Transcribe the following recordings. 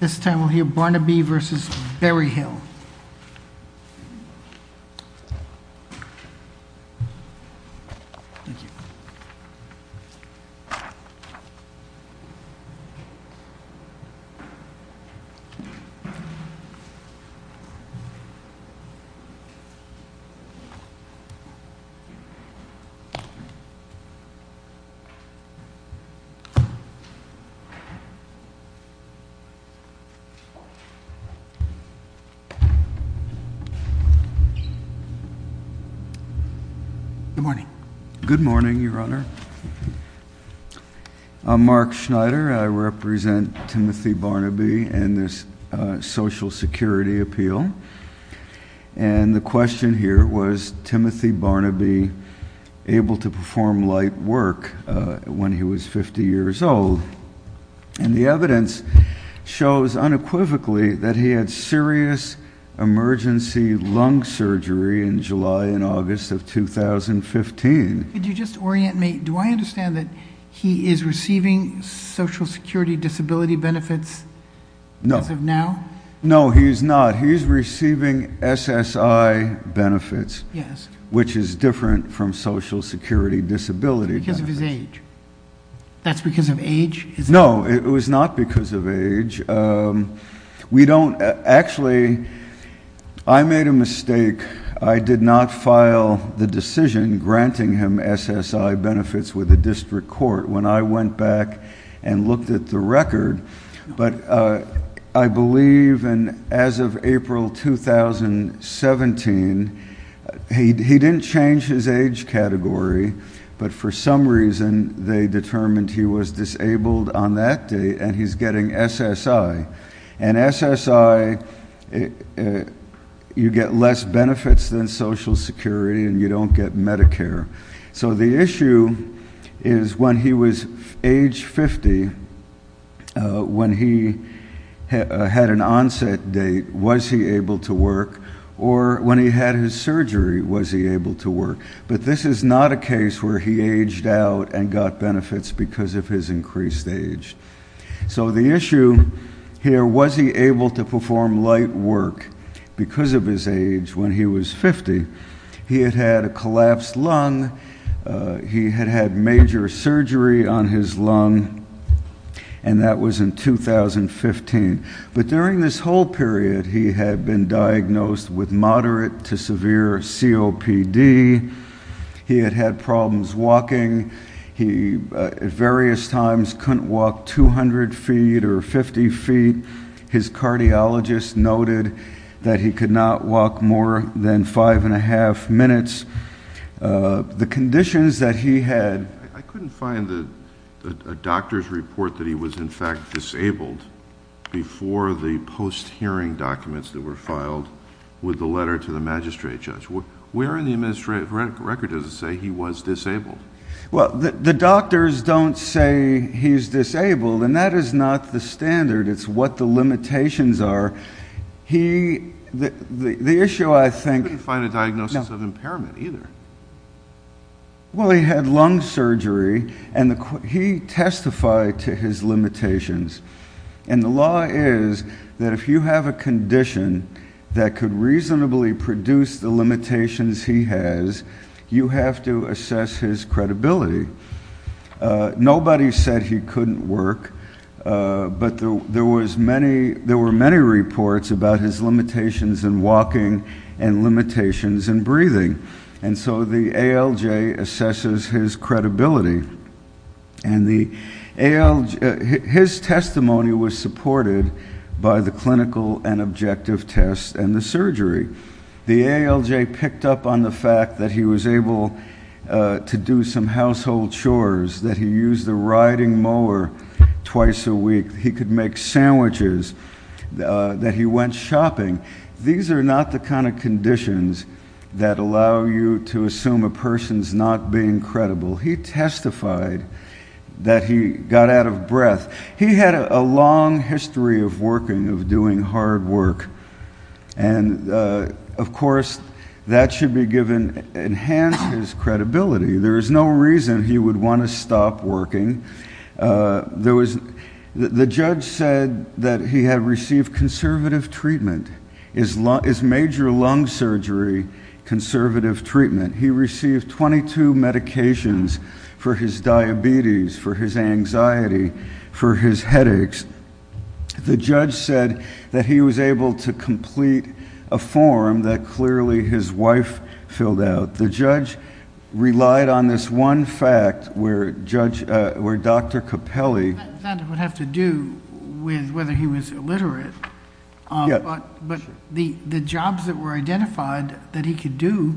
This time we'll hear Barnaby v. Berryhill. Good morning. Good morning, Your Honor. I'm Mark Schneider. I represent Timothy Barnaby and the Social Security Appeal. And the question here was, was Timothy Barnaby able to perform light work when he was 50 years old? And the evidence shows unequivocally that he had serious emergency lung surgery in July and August of 2015. Could you just orient me? Do I understand that he is receiving Social Security disability benefits as of now? No, he's not. He's receiving SSI benefits, which is different from Social Security disability benefits. Because of his age? That's because of age? No, it was not because of age. Actually, I made a mistake. I did not file the decision granting him SSI benefits with the district court when I went back and looked at the record. But I believe as of April 2017, he didn't change his age category, but for some reason they determined he was disabled on that date and he's getting SSI. And SSI, you get less benefits than Social Security and you don't get Medicare. So the issue is when he was age 50, when he had an onset date, was he able to work? Or when he had his surgery, was he able to work? But this is not a case where he aged out and got benefits because of his increased age. So the issue here, was he able to perform light work because of his age when he was diagnosed? Yes. He had had major surgery on his lung and that was in 2015. But during this whole period, he had been diagnosed with moderate to severe COPD. He had had problems walking. He at various times couldn't walk 200 feet or 50 feet. His cardiologist noted that he could not walk more than five and a half minutes. The conditions that he had... I couldn't find a doctor's report that he was in fact disabled before the post-hearing documents that were filed with the letter to the magistrate judge. Where in the administrative record does it say he was disabled? Well, the doctors don't say he's disabled and that is not the standard. It's what the issue I think... He couldn't find a diagnosis of impairment either. Well, he had lung surgery and he testified to his limitations. And the law is that if you have a condition that could reasonably produce the limitations he has, you have to assess his credibility. Nobody said he couldn't work, but there were many reports about his limitations and breathing. And so the ALJ assesses his credibility. And his testimony was supported by the clinical and objective tests and the surgery. The ALJ picked up on the fact that he was able to do some household chores, that he used the riding mower twice a week, he could make sandwiches, that he went shopping. These are not the kind of conditions that allow you to assume a person's not being credible. He testified that he got out of breath. He had a long history of working, of doing hard work. And, of course, that should enhance his credibility. There is no reason he would want to stop working. The judge said that he had received conservative treatment. His major lung surgery, conservative treatment. He received 22 medications for his diabetes, for his anxiety, for his headaches. The judge said that he was able to complete a form that clearly his wife filled out. The judge relied on this one fact where Dr. Capelli... That would have to do with whether he was illiterate. But the jobs that were identified that he could do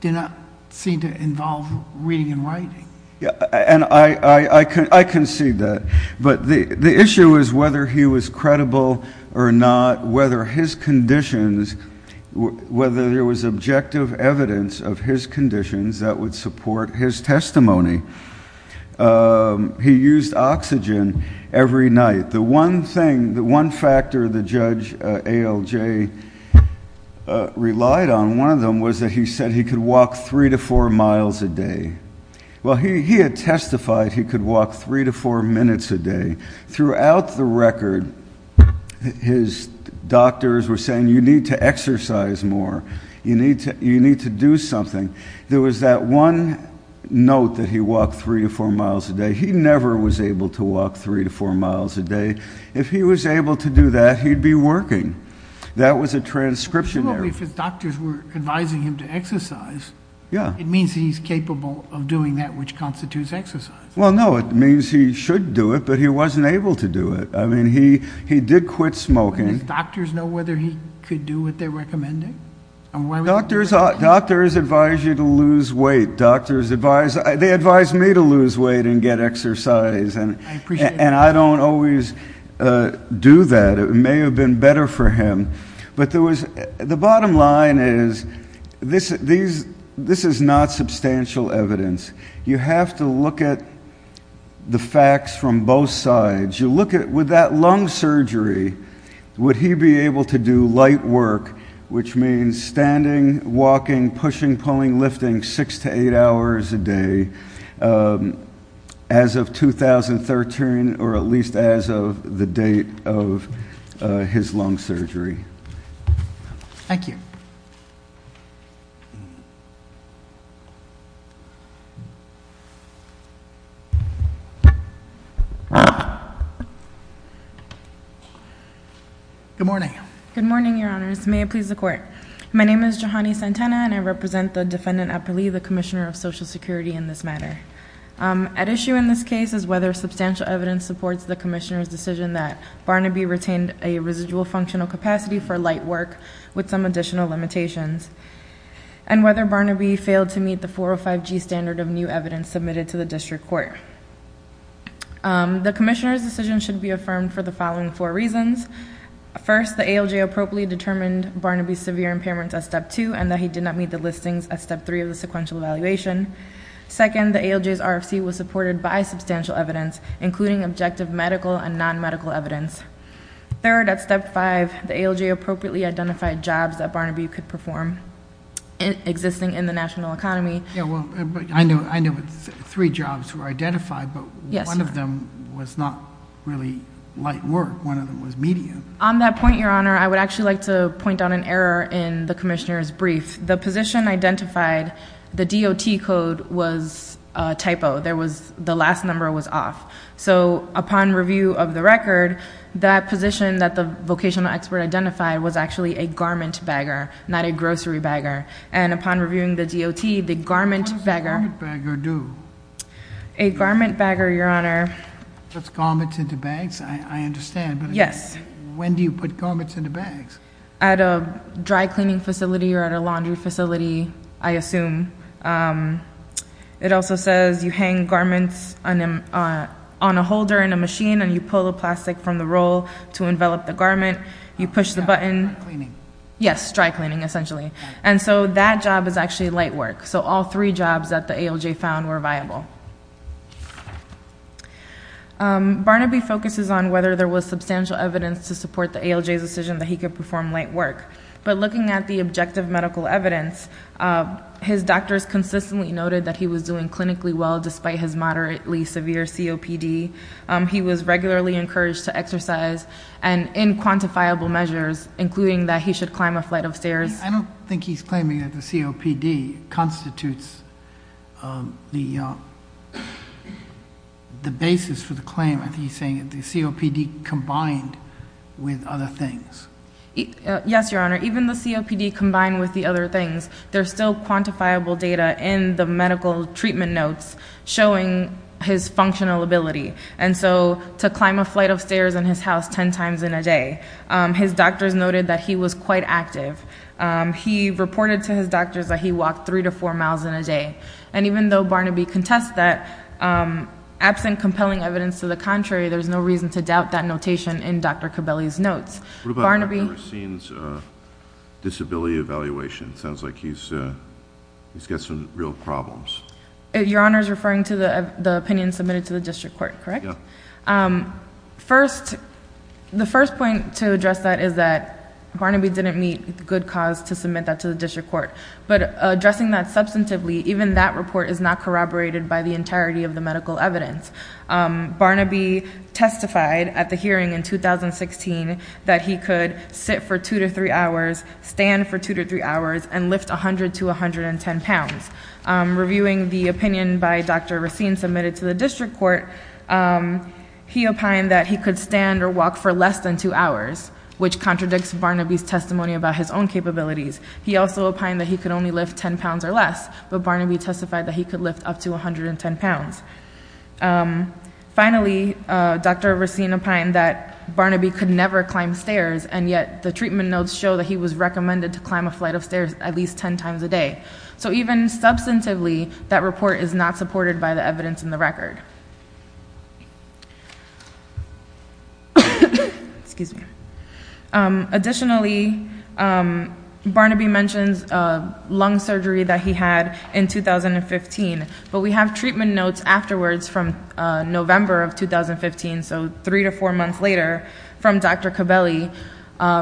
did not seem to involve reading and writing. Yeah, and I concede that. But the issue is whether he was credible or not, whether his conditions, whether there was objective evidence of his conditions that would support his testimony. He used oxygen every night. The one thing, the one factor the judge, ALJ, relied on, one of them was that he said he could walk three to four miles a day. Well, he had testified he could walk three to four minutes a day. Throughout the record his doctors were saying you need to exercise more. You need to do something. There was that one note that he walked three to four miles a day. He never was able to walk three to four miles a day. If he was able to do that, he'd be working. That was a transcription error. If his doctors were advising him to exercise, it means he's capable of doing that which constitutes exercise. Well, no, it means he should do it, but he wasn't able to do it. I mean, he did quit smoking. Did his doctors know whether he could do what they were recommending? Doctors advise you to lose weight. Doctors advise... They advised me to lose weight and get exercise. I appreciate that. And I don't always do that. It may have been better for him. But there was, the bottom line is, this is not substantial evidence. You have to look at the facts from both sides. You look at, with that lung surgery, would he be able to do light work, which means standing, walking, pushing, pulling, lifting six to eight hours a day, as of 2013, or at least as of the date of his lung surgery. Thank you. Good morning. Good morning, Your Honors. May it please the Court. My name is Johanny Santana and I represent the Defendant Epperle, the Commissioner of Social Security, in this matter. At issue in this case is whether substantial evidence supports the Commissioner's decision that Barnaby retained a residual functional capacity for light work with some additional limitations and whether Barnaby failed to meet the 405G standard of new evidence submitted to the District Court. The Commissioner's decision should be affirmed for the following four reasons. First, the ALJ appropriately determined Barnaby's severe impairment at meeting the listings at Step 3 of the sequential evaluation. Second, the ALJ's RFC was supported by substantial evidence, including objective medical and non-medical evidence. Third, at Step 5, the ALJ appropriately identified jobs that Barnaby could perform existing in the national economy. Yeah, well, I know three jobs were identified, but one of them was not really light work. One of them was medium. On that point, Your Honor, I would actually like to point out an error in the Commissioner's decision. The position identified, the DOT code was a typo. The last number was off. So upon review of the record, that position that the vocational expert identified was actually a garment bagger, not a grocery bagger. And upon reviewing the DOT, the garment bagger... What does a garment bagger do? A garment bagger, Your Honor... Puts garments into bags? I understand, but... Yes. When do you put garments into bags? At a dry cleaning facility or at a laundry facility, I assume. It also says you hang garments on a holder in a machine, and you pull the plastic from the roll to envelop the garment. You push the button... Dry cleaning. Yes, dry cleaning, essentially. And so that job is actually light work. So all three jobs that the ALJ found were viable. Barnaby focuses on whether there was substantial evidence to support the ALJ's decision that he could perform light work. But looking at the objective medical evidence, his doctors consistently noted that he was doing clinically well, despite his moderately severe COPD. He was regularly encouraged to exercise, and in quantifiable measures, including that he should climb a flight of stairs. I don't think he's claiming that the COPD constitutes the basis for the claim. I think he's claiming that there are other things. Yes, Your Honor. Even the COPD combined with the other things, there's still quantifiable data in the medical treatment notes showing his functional ability. And so to climb a flight of stairs in his house ten times in a day, his doctors noted that he was quite active. He reported to his doctors that he walked three to four miles in a day. And even though Barnaby contests that, absent compelling evidence to the contrary, there's no reason to doubt that notation in Dr. Cabelli's notes. What about Dr. Racine's disability evaluation? It sounds like he's got some real problems. Your Honor is referring to the opinion submitted to the district court, correct? Yes. The first point to address that is that Barnaby didn't meet good cause to submit that to the district court. But addressing that substantively, even that report is not corroborated by the in 2016 that he could sit for two to three hours, stand for two to three hours, and lift 100 to 110 pounds. Reviewing the opinion by Dr. Racine submitted to the district court, he opined that he could stand or walk for less than two hours, which contradicts Barnaby's testimony about his own capabilities. He also opined that he could only lift 10 pounds or less, but Barnaby testified that he could lift up to 110 pounds. Finally, Dr. Racine opined that Barnaby could never climb stairs, and yet the treatment notes show that he was recommended to climb a flight of stairs at least 10 times a day. So even substantively, that report is not supported by the evidence in the record. Additionally, Barnaby mentions lung surgery that he had in 2015, but we have treatment notes afterwards from November of 2015, so three to four months later, from Dr. Cabelli,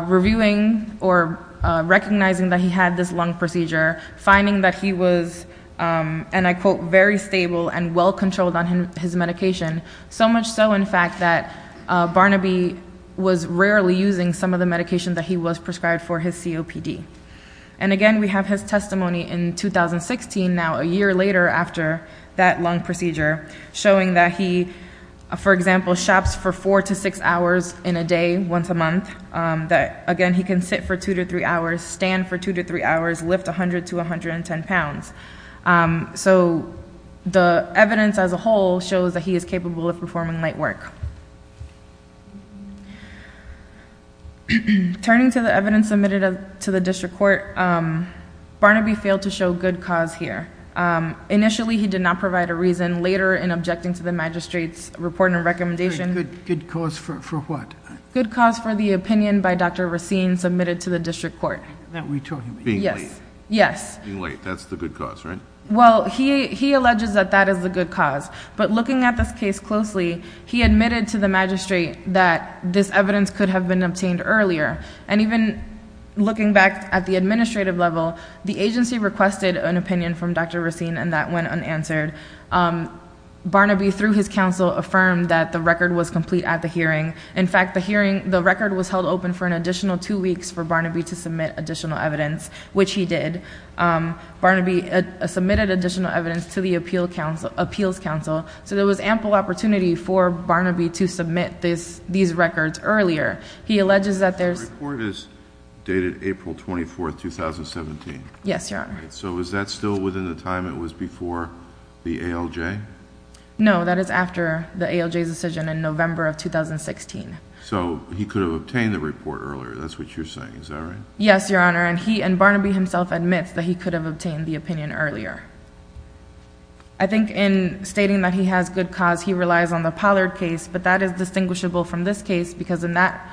reviewing or recognizing that he had this lung procedure, finding that he was, and I quote, very stable and well controlled on his medication, so much so in fact that Barnaby was rarely using some of the medication that he was prescribed for his COPD. And again, we have his testimony in 2016 now, a year later after that lung procedure, showing that he, for example, shops for four to six hours in a day, once a month, that again, he can sit for two to three hours, stand for two to three hours, lift 100 to 110 pounds. So the evidence as a whole shows that he is capable of performing light work. Turning to the evidence submitted to the district court, Barnaby failed to show good cause here. Initially, he did not provide a reason. Later, in objecting to the magistrate's report and recommendation... Good cause for what? Good cause for the opinion by Dr. Racine submitted to the district court. That we told him. Being late. Yes. Being late, that's the good cause, right? Well, he alleges that that is the good cause. But looking at this case closely, he admitted to the magistrate that this evidence could have been obtained earlier. And even looking back at the administrative level, the agency requested an opinion from Dr. Racine and that went unanswered. Barnaby, through his counsel, affirmed that the record was complete at the hearing. In fact, the record was held open for an additional two weeks for Barnaby to evidence to the appeals counsel. So there was ample opportunity for Barnaby to submit these records earlier. He alleges that there's... The report is dated April 24th, 2017. Yes, Your Honor. So is that still within the time it was before the ALJ? No, that is after the ALJ's decision in November of 2016. So he could have obtained the report earlier. That's what you're saying. Is that right? Yes, Your Honor. And Barnaby himself admits that he could have obtained the opinion earlier. I think in stating that he has good cause, he relies on the Pollard case, but that is distinguishable from this case because in that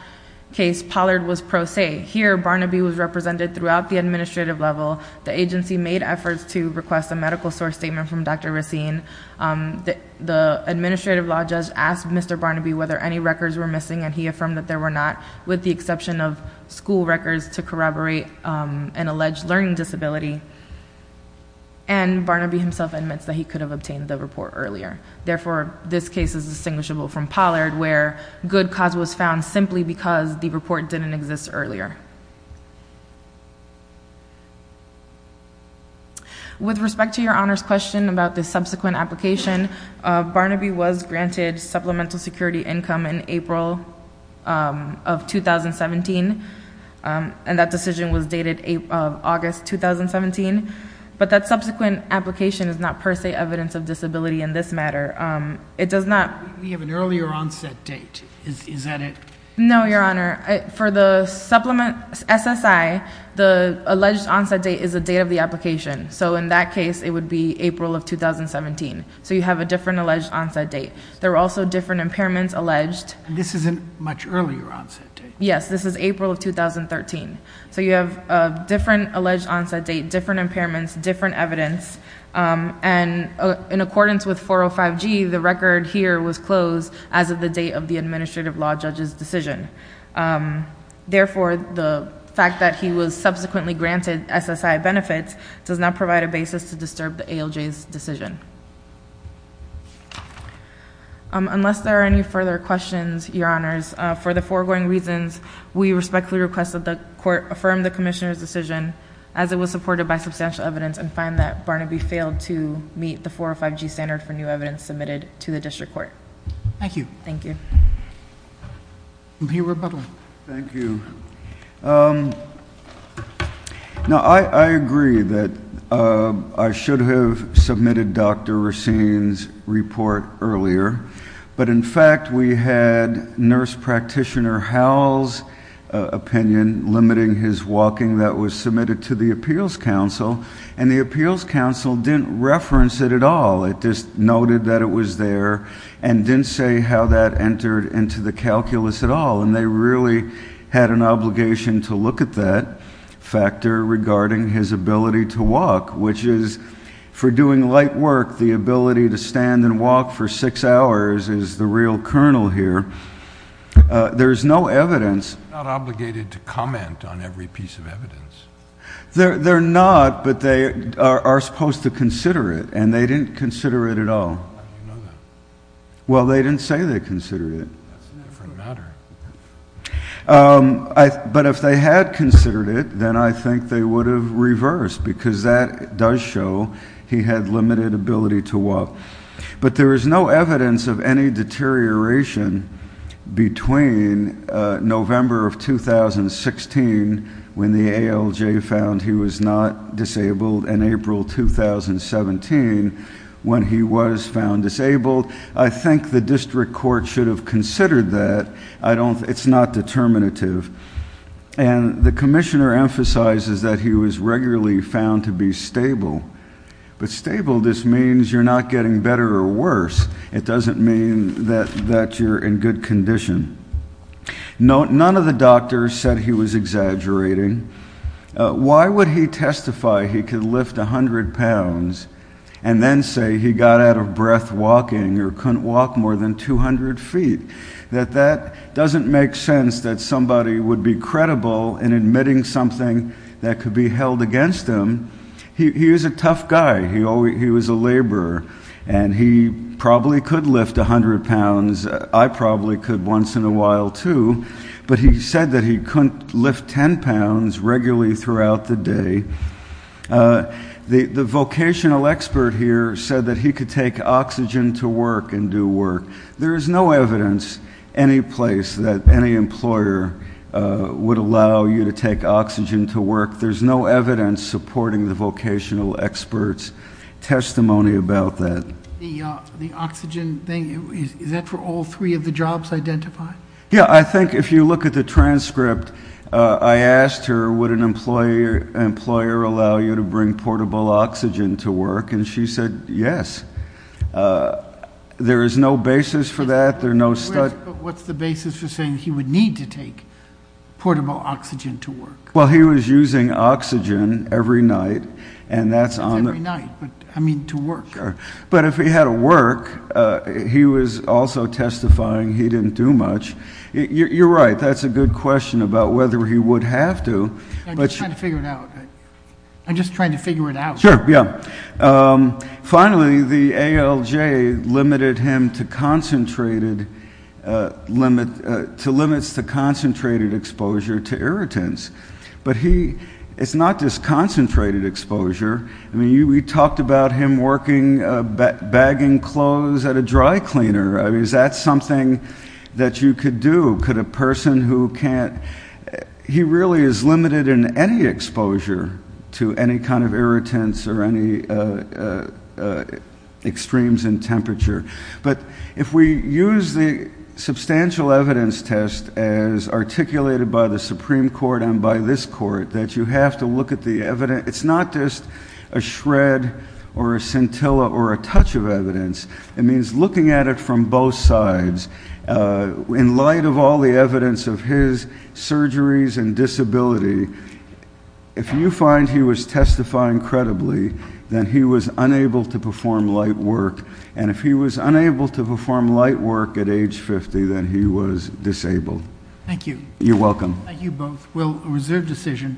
case, Pollard was pro se. Here, Barnaby was represented throughout the administrative level. The agency made efforts to request a medical source statement from Dr. Racine. The administrative law judge asked Mr. Barnaby whether any records were missing and he affirmed that there were not, with the exception of Barnaby himself admits that he could have obtained the report earlier. Therefore, this case is distinguishable from Pollard where good cause was found simply because the report didn't exist earlier. With respect to Your Honor's question about the subsequent application, Barnaby was granted supplemental security income in April of 2017 and that decision was dated August 2017, but that subsequent application is not per se evidence of disability in this matter. We have an earlier onset date. Is that it? No, Your Honor. For the supplement SSI, the alleged onset date is the date of the application. So in that case, it would be April of 2017. So you have a different alleged onset date. There are also different impairments alleged. This is a much earlier onset date. Yes, this is April of 2013. So you have a different alleged onset date, different impairments, different evidence, and in accordance with 405G, the record here was closed as of the date of the administrative law judge's decision. Therefore, the fact that he was subsequently granted SSI benefits does not provide a basis to disturb the ALJ's decision. Unless there are any further questions, Your Honors, for the foregoing reasons, we respectfully request that the Court affirm the Commissioner's decision as it was supported by substantial evidence and find that Barnaby failed to meet the 405G standard for new evidence submitted to the District Court. Thank you. Thank you. Review rebuttal. Thank you. Now, I agree that I should have submitted Dr. Racine's report earlier, but in fact, we had Nurse Practitioner Howell's opinion limiting his walking that was submitted to the Appeals Council, and the Appeals Council didn't reference it at all. It just noted that it was there and didn't say how that entered into the calculus at all, and they really had an obligation to look at that factor regarding his ability to walk, which is, for doing light work, the ability to stand and walk for six hours is the real kernel here. There is no evidence They're not obligated to comment on every piece of evidence. They're not, but they are supposed to consider it, and they didn't consider it at all. How do you know that? Well, they didn't say they considered it. That's a different matter. But if they had considered it, then I think they would have reversed because that does show he had limited ability to walk. But there is no evidence of any deterioration between November of 2016, when the ALJ found he was not disabled, and April 2017, when he was found disabled. I think the district court should have considered that. It's not determinative. And the Commissioner emphasizes that he was regularly found to be stable, but stable just None of the doctors said he was exaggerating. Why would he testify he could lift 100 pounds and then say he got out of breath walking or couldn't walk more than 200 feet? That that doesn't make sense that somebody would be credible in admitting something that could be held against him. He is a tough guy. He was a laborer, and he probably could lift 100 pounds. I probably could once in a while, too. But he said that he couldn't lift 10 pounds regularly throughout the day. The vocational expert here said that he could take oxygen to work and do work. There is no evidence any place that any employer would allow you to take oxygen to work. There's no evidence supporting the vocational expert's testimony about that. The oxygen thing, is that for all three of the jobs identified? Yeah, I think if you look at the transcript, I asked her, would an employer allow you to bring portable oxygen to work? And she said, yes. There is no basis for that. There are no studies. What's the basis for saying he would need to take portable oxygen to work? Well, he was using oxygen every night. And that's on the night. But I mean, to work. But if he had to work, he was also testifying he didn't do much. You're right, that's a good question about whether he would have to. But- I'm just trying to figure it out. I'm just trying to figure it out. Sure, yeah. Finally, the ALJ limited him to limits to concentrated exposure to irritants. But he, it's not just concentrated exposure. I mean, we talked about him working, bagging clothes at a dry cleaner. I mean, is that something that you could do? Could a person who can't- he really is limited in any exposure to any kind of irritants or any extremes in temperature. But if we use the substantial evidence test as articulated by the Supreme Court and by this court, that you have to look at the evidence. It's not just a shred or a scintilla or a touch of evidence. It means looking at it from both sides. In light of all the evidence of his surgeries and disability, if you find he was testifying credibly, then he was unable to perform light work. And if he was unable to perform light work at age 50, then he was disabled. Thank you. You're welcome. Thank you both. Well, a reserved decision.